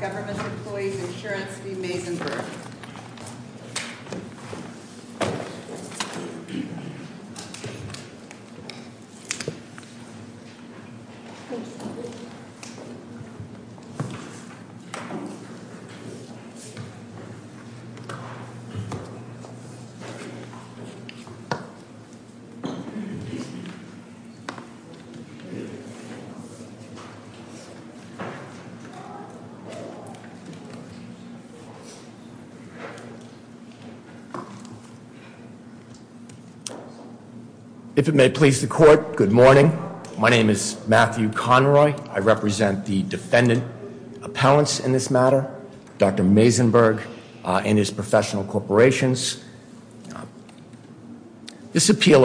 Government Employees Insurance v. Mayzenberg If it may please the court, good morning. My name is Matthew Conroy. I represent the defendant appellants in this matter, Dr. Mayzenberg and his professional corporations. This appeal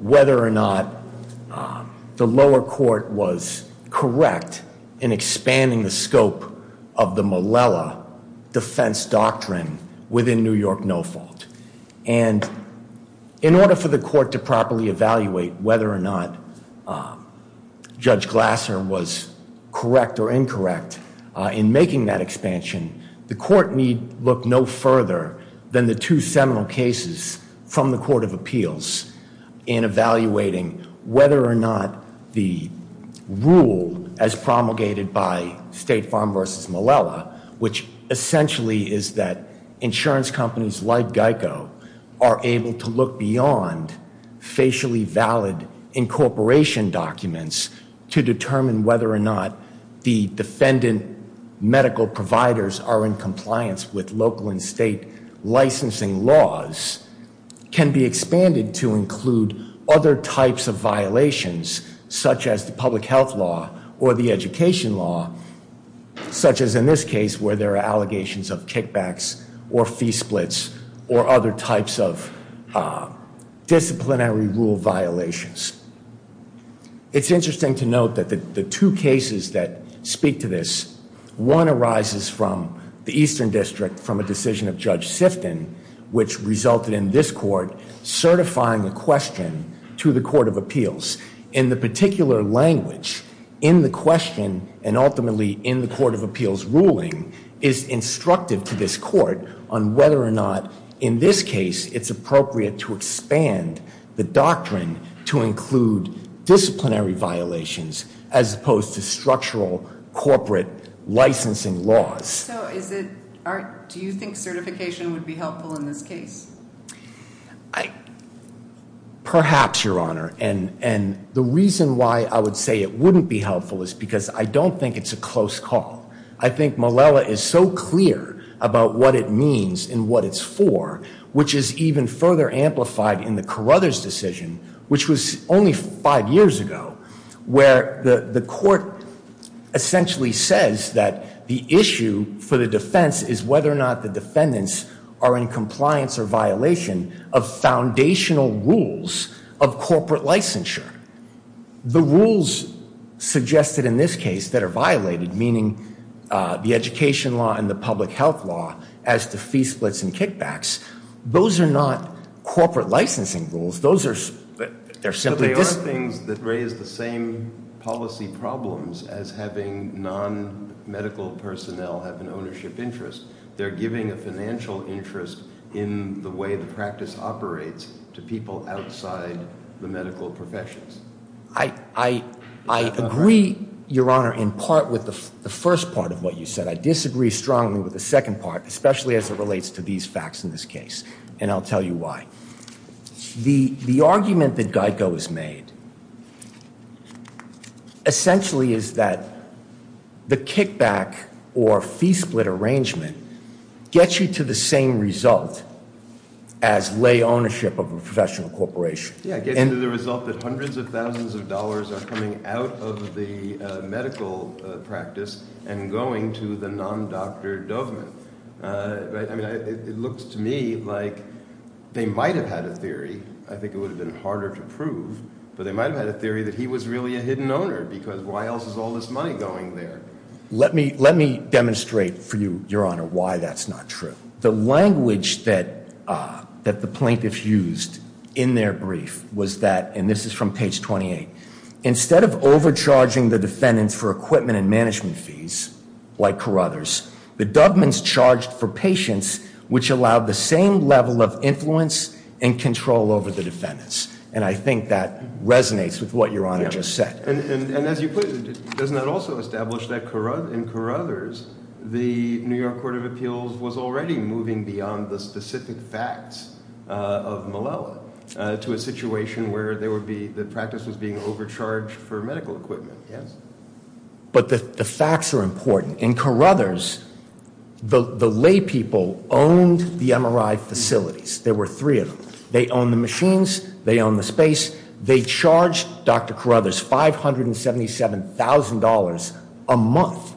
whether or not the lower court was correct in expanding the scope of the Malala defense doctrine within New York No Fault. And in order for the court to properly evaluate whether or not Judge Glasser was correct or incorrect in making that expansion, the court need look no further than the two seminal cases from the court of appeals in evaluating whether or not the rule as promulgated by State Farm v. Malala, which essentially is that insurance companies like GEICO are able to look beyond facially valid incorporation documents to determine whether or defendant medical providers are in compliance with local and state licensing laws, can be expanded to include other types of violations such as the public health law or the education law, such as in this case where there are allegations of kickbacks or fee splits or other types of speak to this. One arises from the Eastern District from a decision of Judge Sifton, which resulted in this court certifying a question to the court of appeals. In the particular language in the question and ultimately in the court of appeals ruling is instructive to this court on whether or not in this case it's appropriate to expand the doctrine to include disciplinary violations as opposed to structural corporate licensing laws. Do you think certification would be helpful in this case? Perhaps, Your Honor, and the reason why I would say it wouldn't be helpful is because I don't think it's a close call. I think Malala is so clear about what it means and what it's for, which is even further amplified in the Carruthers decision, which was only five years ago, where the court essentially says that the issue for the defense is whether or not the defendants are in compliance or violation of foundational rules of corporate licensure. The rules suggested in this case that are violated, meaning the education law and the public health law as to fee splits and kickbacks, those are not corporate licensing rules. Those are simply things that raise the same policy problems as having non-medical personnel have an ownership interest. They're giving a financial interest in the way the practice operates to people outside the medical professions. I agree, Your Honor, in part with the first part of what you said. I agree, especially as it relates to these facts in this case, and I'll tell you why. The argument that GEICO has made essentially is that the kickback or fee split arrangement gets you to the same result as lay ownership of a professional corporation. Yeah, it gets you to the result that hundreds of thousands of dollars are coming out of the medical practice and going to the non-doctor Dovman. I mean, it looks to me like they might have had a theory. I think it would have been harder to prove, but they might have had a theory that he was really a hidden owner because why else is all this money going there? Let me demonstrate for you, Your Honor, why that's not true. The language that the plaintiffs used in their brief was that, and this is from page 28, instead of overcharging the defendants for equipment and management fees, like Carruthers, the Dovmans charged for patients which allowed the same level of influence and control over the defendants, and I think that resonates with what Your Honor just said. And as you put it, doesn't that also establish that in Carruthers, the New York Court of Appeals was already moving beyond the specific facts of Malala to a situation where the practice was being overcharged for medical equipment? Yes. But the facts are important. In Carruthers, the lay people owned the MRI facilities. There were three of them. They owned the machines, they owned the space, they charged Dr. Carruthers $577,000 a month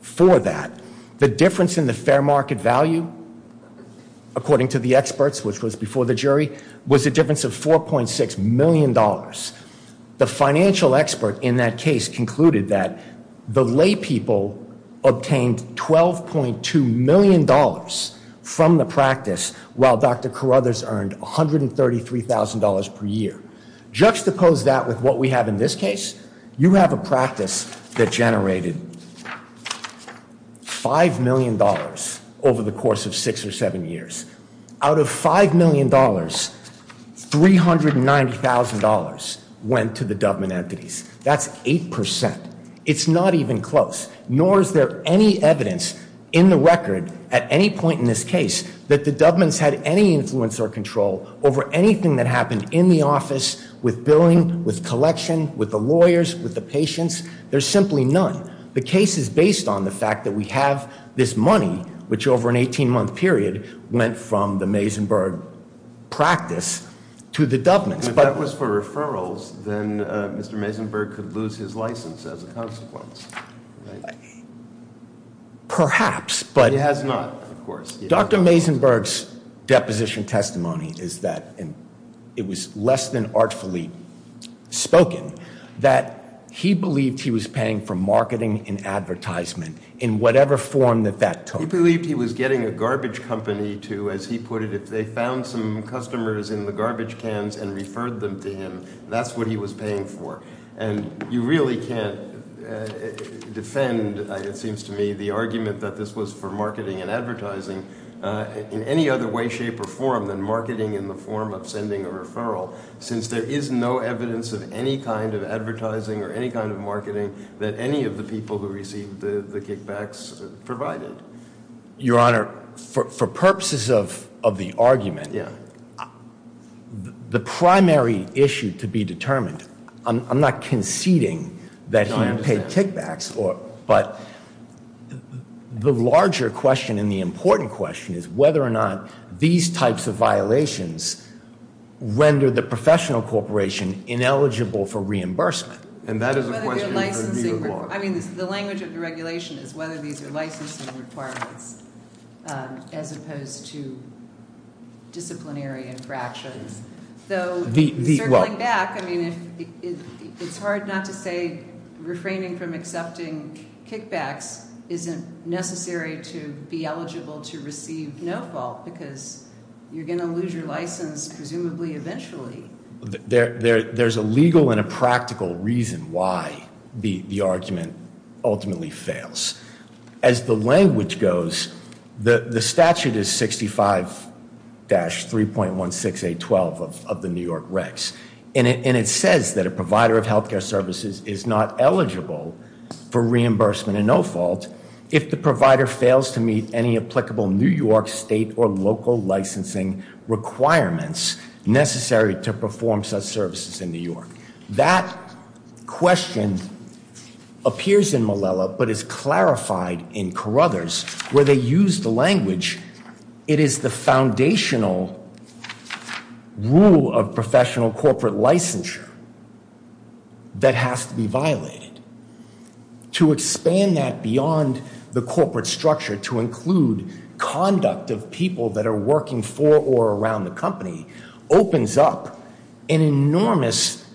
for that. The difference in the fair market value, according to the experts, which was before the jury, was a difference of $4.6 million. The financial expert in that case concluded that the lay people obtained $12.2 million from the practice while Dr. Carruthers earned $133,000 per year. Juxtapose that with what we have in this case. You have a practice that generated $5 million over the course of six or seven years. Out of $5 million, $390,000 went to the Dubman entities. That's 8%. It's not even close. Nor is there any evidence in the record at any point in this case that the Dubmans had any influence or control over anything that happened in the office with billing, with collection, with the lawyers, with the patients. There's simply none. The case is based on the fact that we have this money, which over an 18-month period went from the Mazenberg practice to the Dubmans. If that was for referrals, then Mr. Mazenberg could lose his license as a consequence. Perhaps, but- He has not, of course. Dr. Mazenberg's deposition testimony is that it was less than artfully spoken that he believed he was paying for marketing and advertisement in whatever form that that took. He believed he was getting a garbage company to, as he put it, if they found some customers in the garbage cans and referred them to him, that's what he was paying for. You really can't defend, it seems to me, the argument that this was for marketing and advertising in any other way, shape, or form than marketing in the form of sending a referral, since there is no evidence of any kind of advertising or any kind of marketing that any of the people who received the kickbacks provided. Your Honor, for purposes of the argument, the primary issue to be determined, I'm not conceding that he paid kickbacks, but the larger question and the important question is whether or not these types of violations render the professional corporation ineligible for reimbursement. And that is a question for you, Your Honor. I mean, the language of the regulation is whether these are licensing requirements as opposed to disciplinary infractions. Though, circling back, I mean, it's hard not to say refraining from accepting kickbacks isn't necessary to be eligible to receive no-fault, because you're going to lose your license, presumably, eventually. There's a legal and a practical reason why the argument ultimately fails. As the language goes, the statute is 65-3.16812 of the New York Recs, and it says that a provider of healthcare services is not eligible for reimbursement in no-fault if the provider fails to meet any applicable New York state or local licensing requirements necessary to perform such services in New York. That question appears in Malala, but is clarified in Carruthers, where they use the language, it is the foundational rule of professional corporate licensure that has to be violated. To expand that beyond the corporate structure to include conduct of people that are working for or around the company opens up an enormous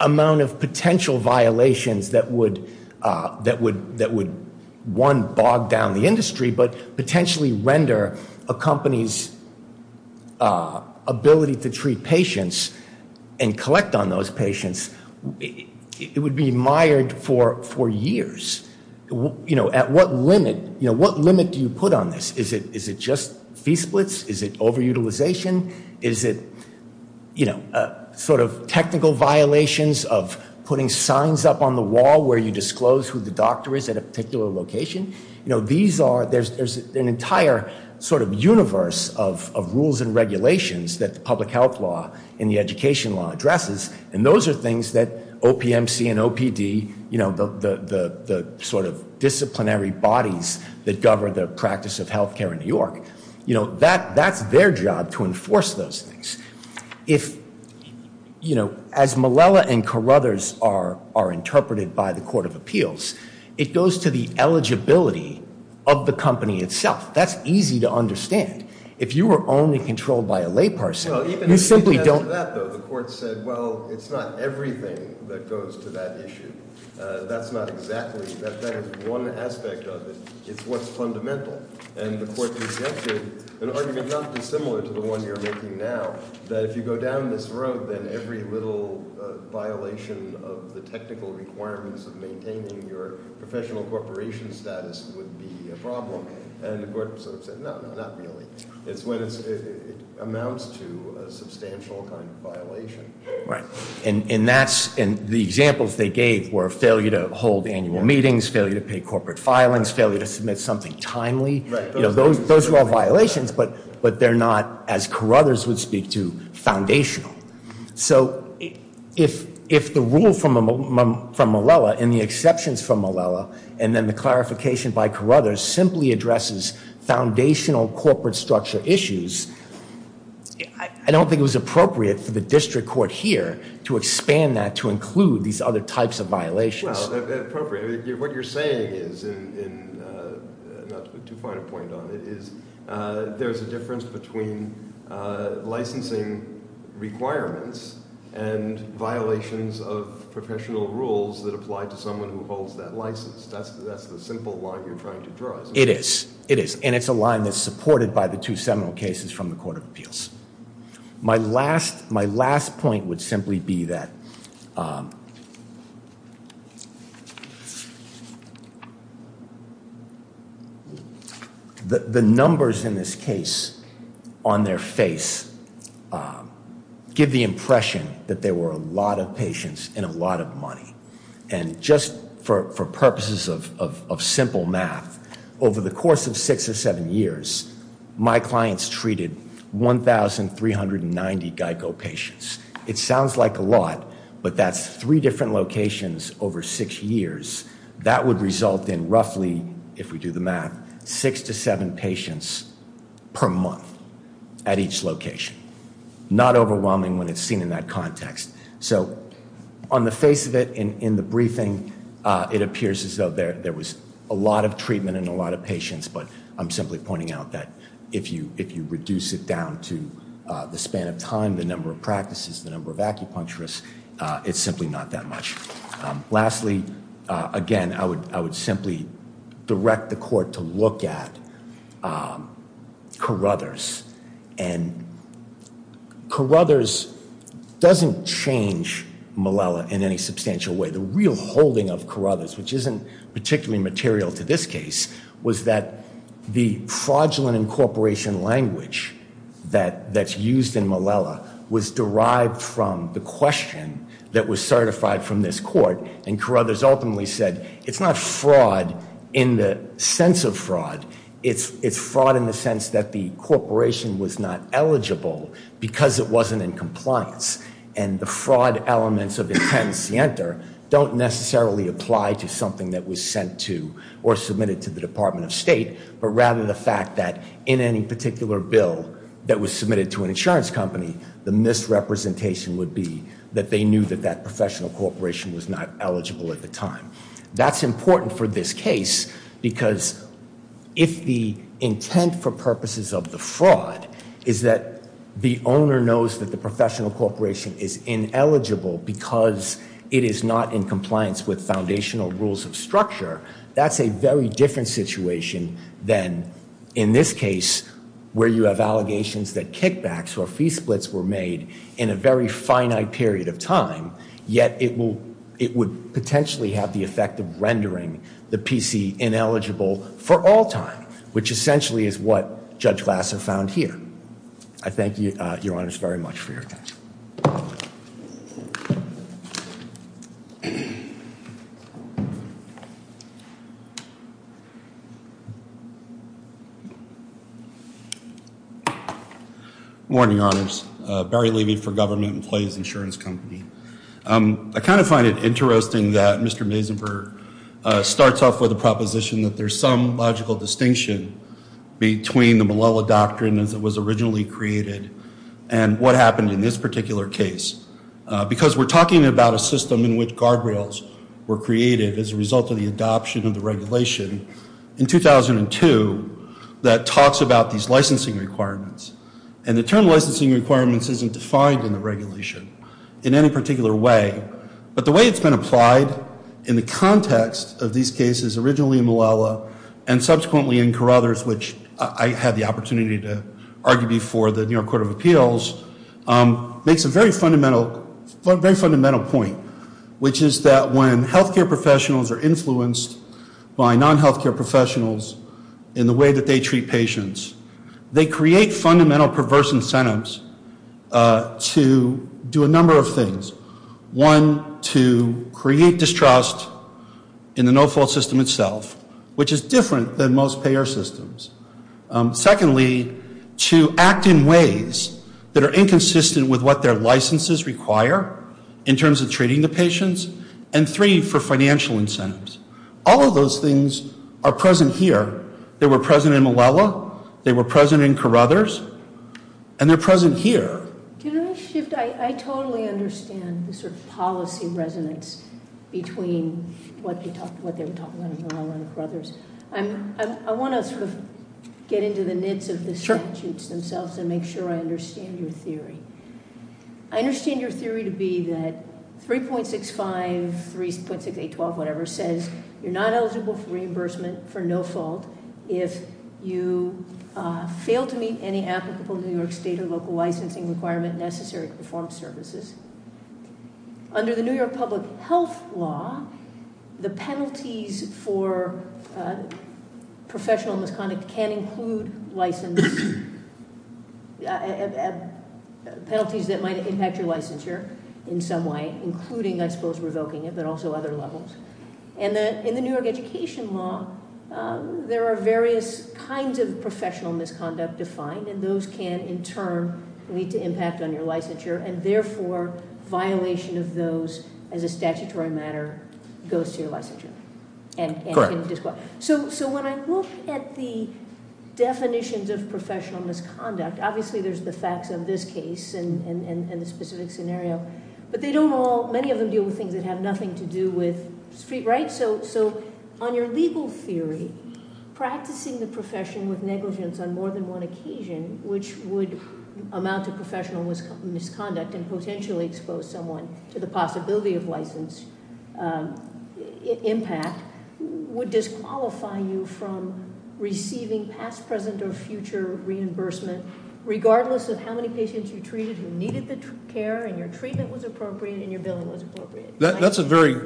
amount of potential violations that would, one, bog down the industry, but potentially render a company's ability to treat patients and collect on those patients, it would be mired for years. You know, at what limit, you know, what limit do you put on this? Is it just fee splits? Is it over-utilization? Is it, you know, sort of technical violations of putting signs up on the wall where you disclose who the doctor is at a particular location? You know, there's an entire sort of universe of rules and regulations that the public health law and the education law addresses, and those are things that OPMC and OPD, you know, the sort of disciplinary bodies that govern the practice of healthcare in New York, you know, that's their job to enforce those things. If, you know, as Malala and Carruthers are interpreted by the of the company itself, that's easy to understand. If you were only controlled by a layperson, you simply don't... The court said, well, it's not everything that goes to that issue. That's not exactly, that's not one aspect of it. It's what's fundamental, and the court presented an argument not dissimilar to the one you're making now, that if you go down this road, then every little violation of the technical requirements of maintaining your professional corporation status would be a problem, and the court sort of said, no, not really. It's when it amounts to a substantial kind of violation. Right, and that's, and the examples they gave were failure to hold annual meetings, failure to pay corporate filings, failure to submit something timely, you know, those are all violations, but they're not, as Carruthers would speak to, foundational. So if the rule from Malala, and the exceptions from Malala, and then the clarification by Carruthers simply addresses foundational corporate structure issues, I don't think it was appropriate for the district court here to expand that to include these other types of violations. Well, appropriate. What you're saying is, and not too far to point on it, is there's a difference between licensing requirements and violations of professional rules that apply to someone who holds that license. That's the simple line you're trying to draw. It is, it is, and it's a line that's supported by the two seminal cases from the case on their face give the impression that there were a lot of patients and a lot of money. And just for purposes of simple math, over the course of six or seven years, my clients treated 1,390 GEICO patients. It sounds like a lot, but that's three different locations over six years. That would result in roughly, if we do the math, six to seven patients per month at each location. Not overwhelming when it's seen in that context. So on the face of it, in the briefing, it appears as though there was a lot of treatment and a lot of patients, but I'm simply pointing out that if you reduce it down to the span of time, the number of practices, the number of acupuncturists, it's simply not that much. Lastly, again, I would simply direct the court to look at Carruthers. And Carruthers doesn't change Malala in any substantial way. The real holding of Carruthers, which isn't particularly material to this case, was that the fraudulent incorporation language that's used in Malala was derived from the question that was certified from this court. And Carruthers ultimately said, it's not fraud in the sense of fraud. It's fraud in the sense that the corporation was not eligible because it wasn't in compliance. And the fraud elements of Intent Sienter don't necessarily apply to something that was sent to or submitted to the Department of State, but rather the fact that in any particular bill that was submitted to an insurance company, the misrepresentation would be that they knew that that professional corporation was not eligible at the time. That's important for this case because if the intent for purposes of the fraud is that the owner knows that the structure, that's a very different situation than in this case where you have allegations that kickbacks or fee splits were made in a very finite period of time, yet it will, it would potentially have the effect of rendering the PC ineligible for all time, which essentially is what Judge Glass have found here. I thank you, your honors, very much for your attention. Morning, your honors. Barry Levy for Government and Plays Insurance Company. I kind of find it interesting that Mr. Mazenberg starts off with a proposition that there's some logical distinction between the Malala Doctrine as it was originally created and what happened in this particular case because we're talking about a system in which guardrails were created as a result of the adoption of the regulation in 2002 that talks about these licensing requirements, and the term licensing requirements isn't defined in the regulation in any particular way, but the way it's been applied in the context of these cases originally in Malala and subsequently in I had the opportunity to argue before the New York Court of Appeals, makes a very fundamental, very fundamental point, which is that when healthcare professionals are influenced by non-healthcare professionals in the way that they treat patients, they create fundamental perverse incentives to do a number of things. One, to create distrust in the no-fault system itself, which is different than most payer systems. Secondly, to act in ways that are inconsistent with what their licenses require in terms of treating the patients, and three, for financial incentives. All of those things are present here. They were present in Malala, they were present in Carruthers, and they're present here. Can I shift? I totally understand the sort of policy resonance between what they were talking about in Malala and Carruthers. I want to sort of get into the nits of the statutes themselves and make sure I understand your theory. I understand your theory to be that 3.65, 3.6812, whatever, says you're not eligible for reimbursement for no-fault if you fail to meet any applicable New York state or local licensing requirement necessary to perform services. Under the New York public health law, the penalties for professional misconduct can include license penalties that might impact your licensure in some way, including, I suppose, revoking it, but also other levels. In the New York education law, there are various kinds of professional misconduct defined, and those can, in turn, lead to impact on your licensure, and therefore, violation of those as a statutory matter goes to your licensure. So when I look at the definitions of professional misconduct, obviously there's the facts of this case and the specific scenario, but they don't all, many of them deal with things that have nothing to do with street rights. So on your legal theory, practicing the profession with negligence on more than one occasion, which would amount to professional misconduct and potentially expose someone to the possibility of license impact, would disqualify you from receiving past, present, or future reimbursement regardless of how many patients you treated who needed the care and your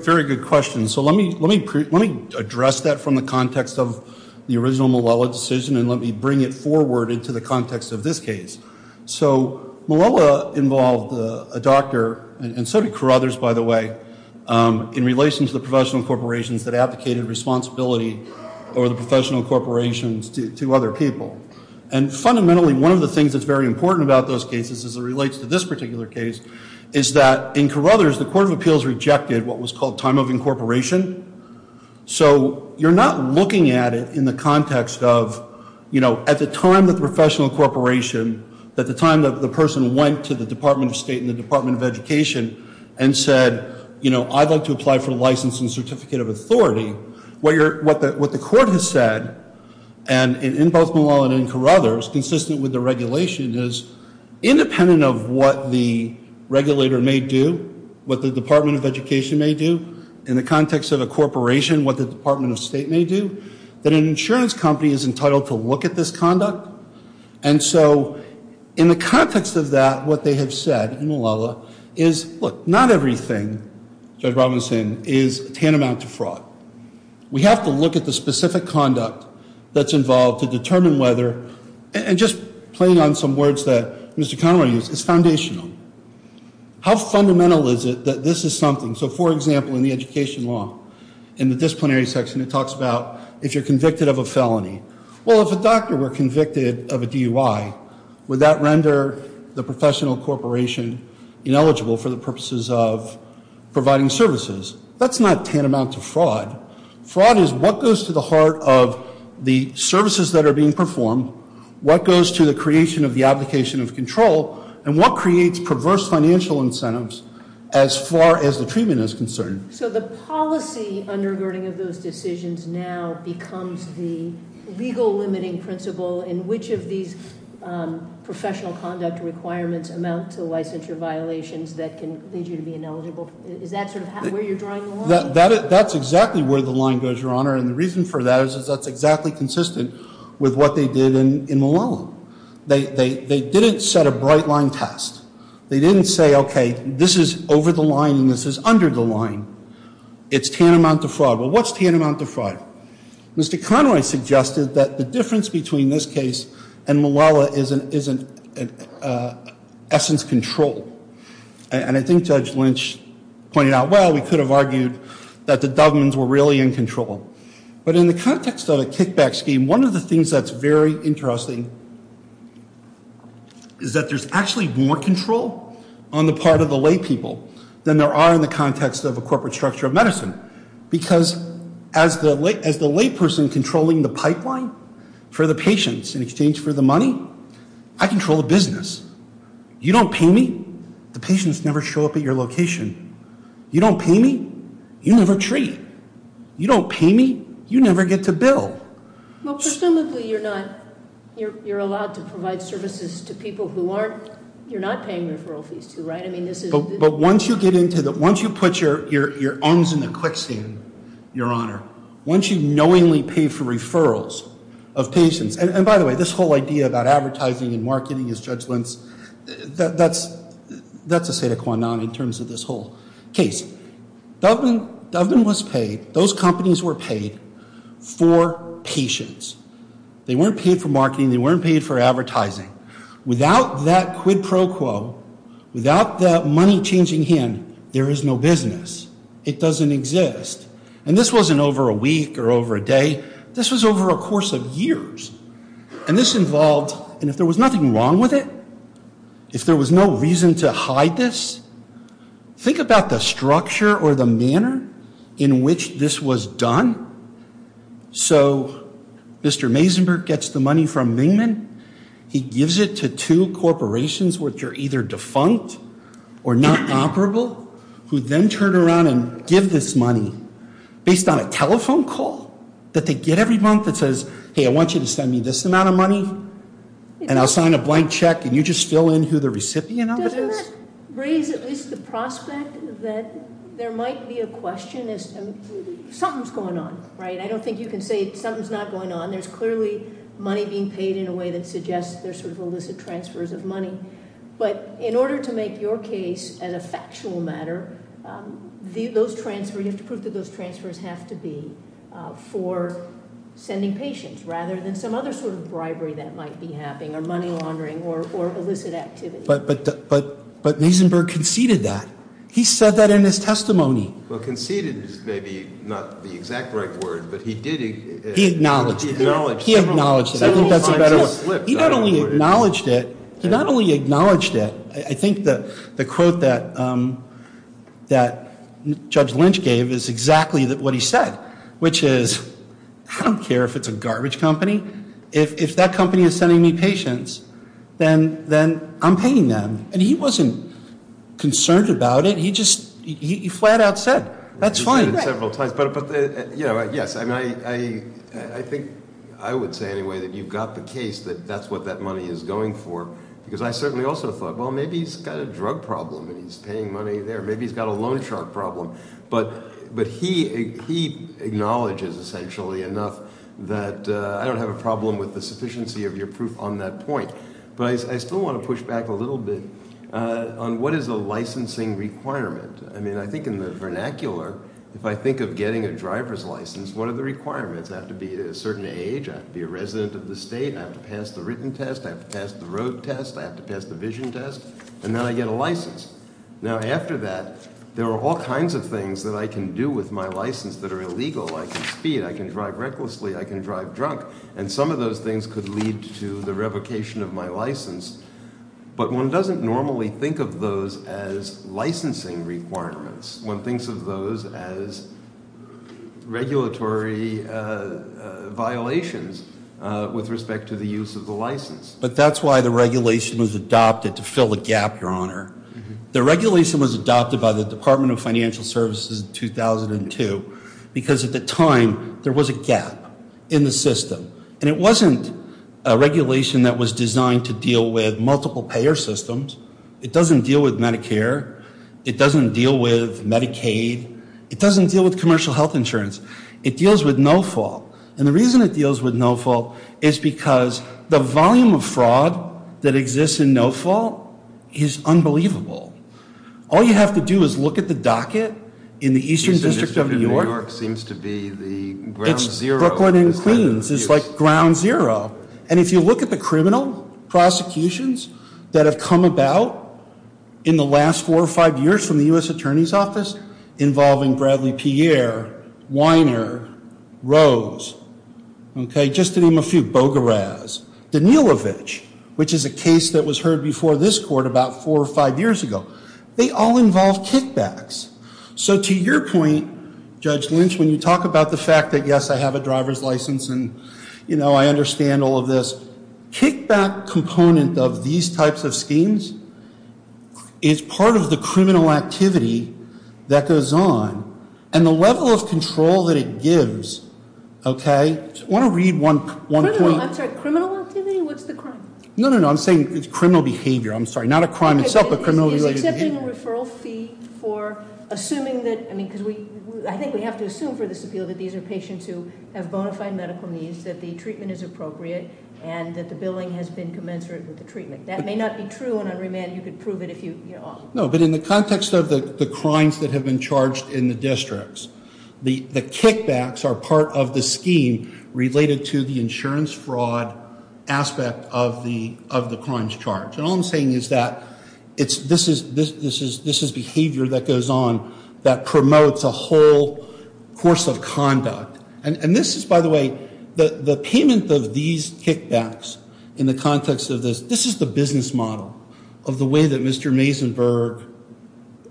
very good question. So let me address that from the context of the original Malola decision, and let me bring it forward into the context of this case. So Malola involved a doctor, and so did Carothers, by the way, in relation to the professional corporations that advocated responsibility over the professional corporations to other people. And fundamentally, one of the things that's very important about those cases, as it relates to this particular case, is that in Carothers, the Court of Appeals rejected what was called time of incorporation. So you're not looking at it in the context of, you know, at the time that the professional corporation, at the time that the person went to the Department of State and the Department of Education and said, you know, I'd like to apply for the license and certificate of authority. What you're, what the, what the court has said, and in both Malola and Carothers, consistent with the regulation, is independent of what the regulator may do, what the Department of Education may do, in the context of a corporation, what the Department of State may do, that an insurance company is entitled to look at this conduct. And so in the context of that, what they have said in Malola is, look, not everything, Judge Robinson, is tantamount to fraud. We have to look at the playing on some words that Mr. Conroy used. It's foundational. How fundamental is it that this is something, so for example, in the education law, in the disciplinary section, it talks about if you're convicted of a felony. Well, if a doctor were convicted of a DUI, would that render the professional corporation ineligible for the purposes of providing services? That's not tantamount to fraud. Fraud is what goes to the heart of the services that are being performed, what goes to the creation of the application of control, and what creates perverse financial incentives as far as the treatment is concerned. So the policy undergirding of those decisions now becomes the legal limiting principle in which of these professional conduct requirements amount to licensure violations that can lead you to be ineligible. Is that sort of where you're drawing the line? That's exactly where the line goes, Your Honor, and the reason for that is that's exactly consistent with what they did in Malala. They didn't set a bright line test. They didn't say, okay, this is over the line and this is under the line. It's tantamount to fraud. Well, what's tantamount to fraud? Mr. Conroy suggested that the difference between this case and Malala is an essence control, and I think Judge Lynch pointed out, well, we could have argued that the kickback scheme, one of the things that's very interesting is that there's actually more control on the part of the lay people than there are in the context of a corporate structure of medicine, because as the lay person controlling the pipeline for the patients in exchange for the money, I control the business. You don't pay me, the patients never show up at your location. You don't pay me, you never treat. You don't pay me, you never get to bill. Well, presumably you're not, you're allowed to provide services to people who aren't, you're not paying referral fees to, right? I mean, this is, but once you get into the, once you put your arms in the quicksand, Your Honor, once you knowingly pay for referrals of patients, and by the way, this whole idea about case, Doveman was paid, those companies were paid for patients. They weren't paid for marketing, they weren't paid for advertising. Without that quid pro quo, without that money changing hand, there is no business. It doesn't exist, and this wasn't over a week or over a day, this was over a course of years, and this involved, and if there was nothing wrong with it, if there was no reason to hide this, think about the structure or the manner in which this was done. So, Mr. Mazenberg gets the money from Mingman, he gives it to two corporations which are either defunct or not operable, who then turn around and give this money based on a telephone call that they get every month that says, hey, I want you to send me this amount of money, and I'll sign a blank check, and you just fill in who the recipient of it is? Doesn't that raise at least the prospect that there might be a question as, something's going on, right? I don't think you can say something's not going on. There's clearly money being paid in a way that suggests there's sort of illicit transfers of money, but in order to make your case an effectual matter, those transfers, you have to prove that those transfers have to be for sending patients, rather than some other sort of bribery that might be happening, or money laundering, or illicit activity. But, but, but, but Mazenberg conceded that. He said that in his testimony. Well, conceded is maybe not the exact right word, but he did. He acknowledged it. He acknowledged it. I think that's a better word. He not only acknowledged it, he not only acknowledged it, I think the, the quote that, that Judge Lynch gave is exactly what he said, which is, I don't care if it's a garbage company. If, if that company is sending me patients, then, then I'm paying them. And he wasn't concerned about it. He just, he flat out said, that's fine. He said it several times, but, but, you know, yes, I mean, I, I, I think I would say anyway that you've got the case that that's what that money is going for, because I certainly also thought, well, maybe he's got a drug problem, and he's paying money there. Maybe he's got a he acknowledges essentially enough that I don't have a problem with the sufficiency of your proof on that point. But I, I still want to push back a little bit on what is a licensing requirement. I mean, I think in the vernacular, if I think of getting a driver's license, what are the requirements? I have to be a certain age, I have to be a resident of the state, I have to pass the written test, I have to pass the road test, I have to pass the vision test, and then I get a license. Now after that, there are all kinds of things that I can do with my license that are illegal. I can speed, I can drive recklessly, I can drive drunk, and some of those things could lead to the revocation of my license. But one doesn't normally think of those as licensing requirements. One thinks of those as regulatory violations with respect to the use of the license. But that's why the regulation was adopted to fill the gap, your honor. The regulation was adopted by the Department of Financial Services in 2002, because at the time there was a gap in the system. And it wasn't a regulation that was designed to deal with multiple payer systems. It doesn't deal with Medicare. It doesn't deal with Medicaid. It doesn't deal with commercial health insurance. It deals with no-fault. And the reason it deals with no-fault is because the volume of fraud that exists in no-fault is unbelievable. All you have to do is look at the docket in the Eastern District of New York. It's Brooklyn and Queens. It's like ground zero. And if you look at the criminal prosecutions that have come about in the last four or five years from the U.S. Attorney's Office involving Bradley Pierre, Weiner, Rose, okay, just to name a few, Bogaraz, Danilovich, which is a case that was heard before this court about four or five years ago. They all involve kickbacks. So to your point, Judge Lynch, when you talk about the fact that, yes, I have a driver's license and you know, I understand all of this, kickback component of these types of schemes is part of the criminal activity that goes on. And the level of control that it gives, okay, I want to read one point. I'm sorry, criminal activity? What's the crime? No, no, no, I'm saying it's criminal behavior. I'm sorry, not a crime itself, but criminal behavior. He's accepting a referral fee for assuming that, I mean, because we, I think we have to assume for this appeal that these are patients who have bona fide medical needs, that the treatment is appropriate, and that the billing has been commensurate with the treatment. That may not be true on unremand. You could prove it if you, you know. No, but in the context of the crimes that have been charged in the districts, the kickbacks are part of the scheme related to the insurance fraud aspect of the of the crimes charged. And all I'm saying is that it's, this is behavior that goes on that promotes a whole course of conduct. And this is, by the way, the payment of these kickbacks in the context of this, this is the business model of the way that Mr. Mazenberg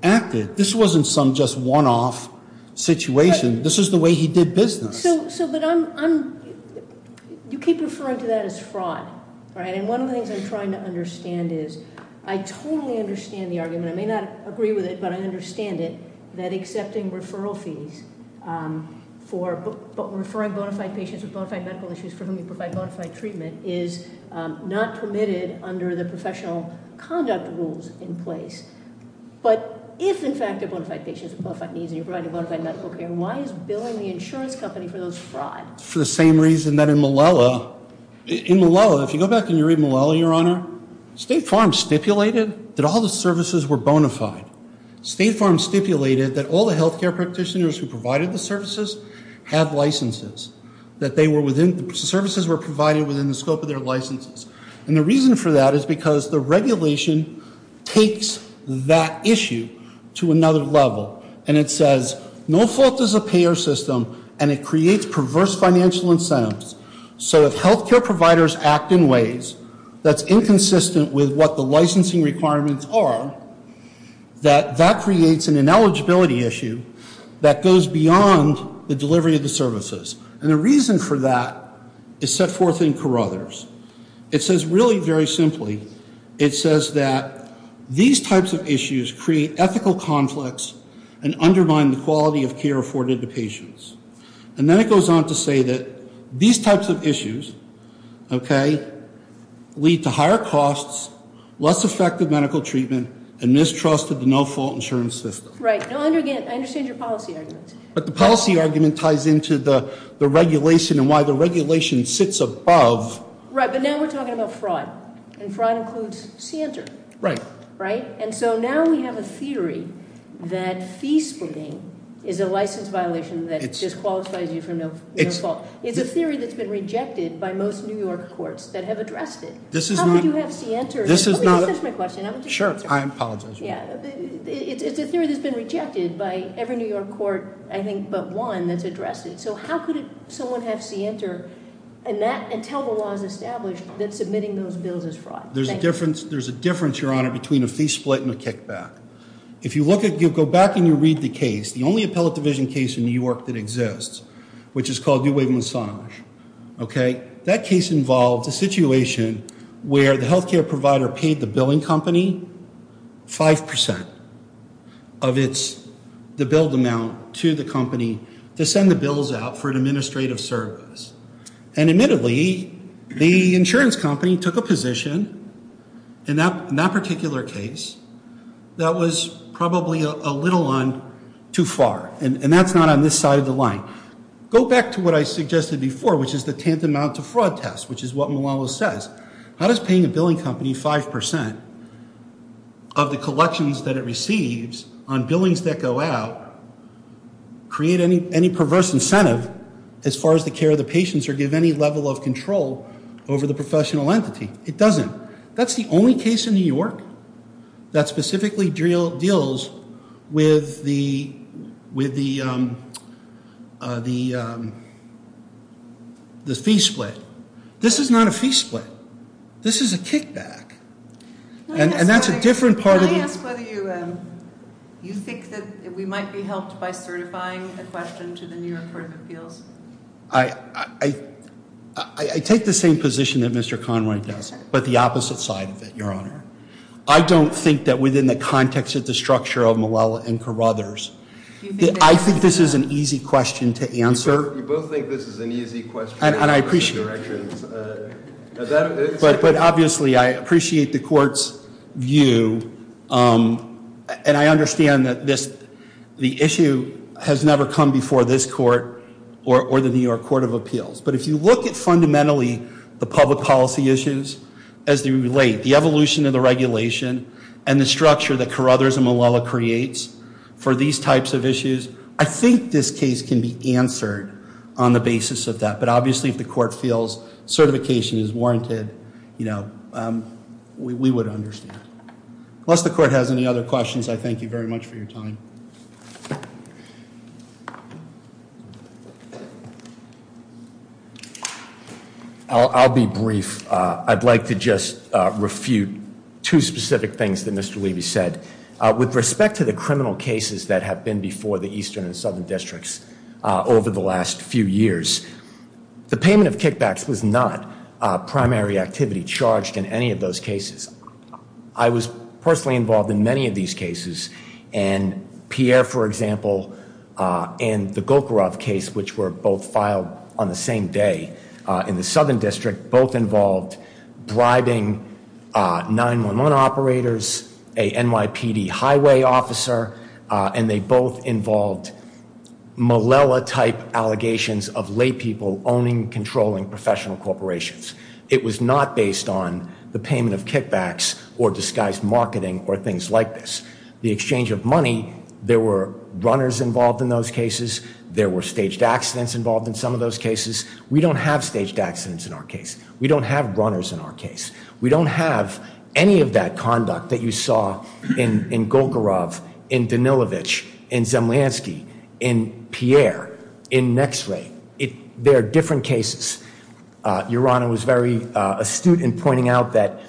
acted. This wasn't some just one-off situation. This is the way he did business. So, but I'm, you keep referring to that as fraud, right? And one of the things I'm trying to understand is, I totally understand the argument, I may not agree with it, but I understand it, that accepting referral fees for referring bona fide patients with bona fide medical issues for whom you provide bona fide treatment is not permitted under the professional conduct rules in place. But if, in fact, they're bona fide patients with bona fide needs, and you're providing bona fide medical care, why is billing the insurance company for those fraud? For the same reason that in Malala, in Malala, if you go back and you read Malala, your honor, State Farm stipulated that all the services were bona fide. State Farm stipulated that all the health care practitioners who provided the services have licenses. That they were within, the services were provided within the scope of their licenses. And the reason for that is because the regulation takes that issue to another level. And it says, no fault is a payer system, and it creates perverse financial incentives. So if health care providers act in ways that's inconsistent with what the licensing requirements are, that that creates an ineligibility issue that goes beyond the delivery of the services. And the reason for that is set forth in Carruthers. It says really very simply, it says that these types of issues create ethical conflicts and undermine the quality of care afforded to patients. And then it goes on to say that these types of issues, okay, lead to higher costs, less effective medical treatment, and mistrust of the no-fault insurance system. Right. No, and again, I understand your policy argument. But the policy argument ties into the regulation and why the regulation sits above. Right, but now we're talking about fraud. And fraud includes Santer. Right. Right? And so now we have a theory that fee splitting is a license violation that just qualifies you for no fault. It's a theory that's been rejected by most New York courts that have addressed it. How could you have Santer? This is not a- Let me just finish my question. I want you to finish your question. Sure. I apologize. Yeah. It's a theory that's been rejected by every New York court, I think, but one that's addressed it. So how could someone have Santer and tell the laws established that submitting those bills is fraud? Thank you. There's a difference, Your Honor, between a fee split and a kickback. If you go back and you read the case, the only appellate division case in New York that exists, which is called New Wave Massage, okay, that case involved a situation where the healthcare provider paid the billing company 5% of the billed amount to the company to send the bills out for an acquisition. In that particular case, that was probably a little on too far, and that's not on this side of the line. Go back to what I suggested before, which is the tantamount to fraud test, which is what Malala says. How does paying a billing company 5% of the collections that it receives on billings that go out create any perverse incentive as far as the care of the control over the professional entity? It doesn't. That's the only case in New York that specifically deals with the fee split. This is not a fee split. This is a kickback, and that's a different part of the- Can I ask whether you think that we might be helped by certifying a question to the New York Court of Appeals? I take the same position that Mr. Conway does, but the opposite side of it, Your Honor. I don't think that within the context of the structure of Malala and Carruthers, I think this is an easy question to answer. You both think this is an easy question. And I appreciate it, but obviously, I appreciate the Court's view, and I understand that this, the issue has never come before this Court or the New York Court of Appeals. But if you look at fundamentally the public policy issues as they relate, the evolution of the regulation and the structure that Carruthers and Malala creates for these types of issues, I think this case can be answered on the basis of that. But obviously, if the Court feels certification is warranted, you know, we would understand. Unless the Court has any other questions, I thank you very much for your time. Thank you. I'll be brief. I'd like to just refute two specific things that Mr. Levy said. With respect to the criminal cases that have been before the Eastern and Southern Districts over the last few years, the payment of kickbacks was not a primary activity charged in any of those cases. I was personally involved in many of these cases. And Pierre, for example, and the Gokharov case, which were both filed on the same day in the Southern District, both involved bribing 911 operators, a NYPD highway officer, and they both involved Malala-type allegations of laypeople owning, controlling professional corporations. It was not based on the payment of kickbacks or disguised marketing or things like this. The exchange of money, there were runners involved in those cases. There were staged accidents involved in some of those cases. We don't have staged accidents in our case. We don't have runners in our case. We don't have any of that conduct that you saw in Gokharov, in Danilovich, in Zemlyansky, in Pierre, in Nexley. There are different cases. Your Honor was very astute in pointing out that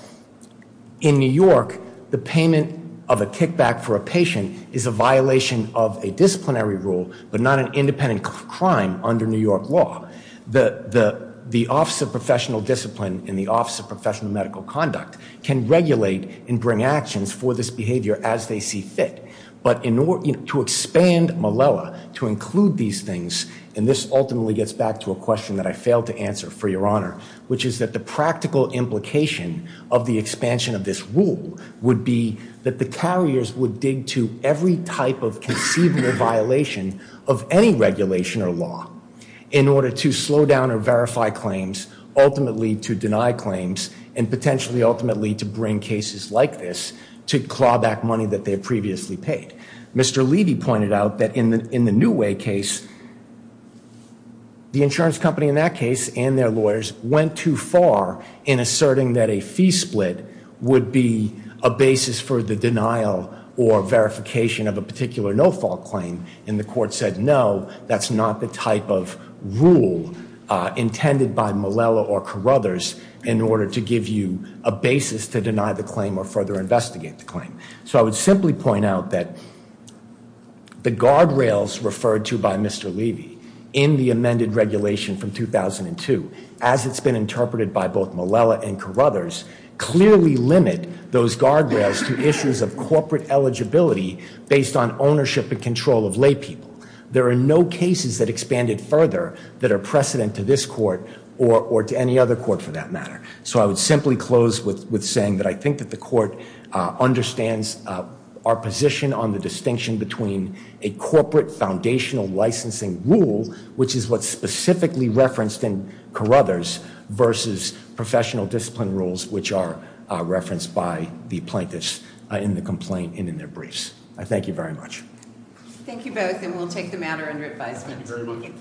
in New York, the payment of a kickback for a patient is a violation of a disciplinary rule, but not an independent crime under New York law. The Office of Professional Discipline and the Office of Professional Medical Conduct can regulate and bring actions for this behavior as they see fit. But to expand Malala, to include these things, and this ultimately gets back to a question that I failed to answer, for your honor, which is that the practical implication of the expansion of this rule would be that the carriers would dig to every type of conceivable violation of any regulation or law in order to slow down or verify claims, ultimately to deny claims, and potentially ultimately to bring cases like this to claw back money that they previously paid. Mr. Levy pointed out that in the New Way case, the insurance company in that case and their lawyers went too far in asserting that a fee split would be a basis for the denial or verification of a particular no-fault claim, and the court said, no, that's not the type of rule intended by Malala or Carruthers in order to give you a basis to deny the claim or further investigate the claim. So I would simply point out that the guardrails referred to by Mr. Levy in the amended regulation from 2002, as it's been interpreted by both Malala and Carruthers, clearly limit those guardrails to issues of corporate eligibility based on ownership and control of laypeople. There are no cases that expanded further that are precedent to this court or to any other court for that matter. So I would simply close with saying that I think that the court understands our position on the distinction between a corporate foundational licensing rule, which is what's specifically referenced in Carruthers, versus professional discipline rules, which are referenced by the plaintiffs in the complaint and in their briefs. I thank you very much. Thank you both, and we'll take the matter under advisement. Thank you very much.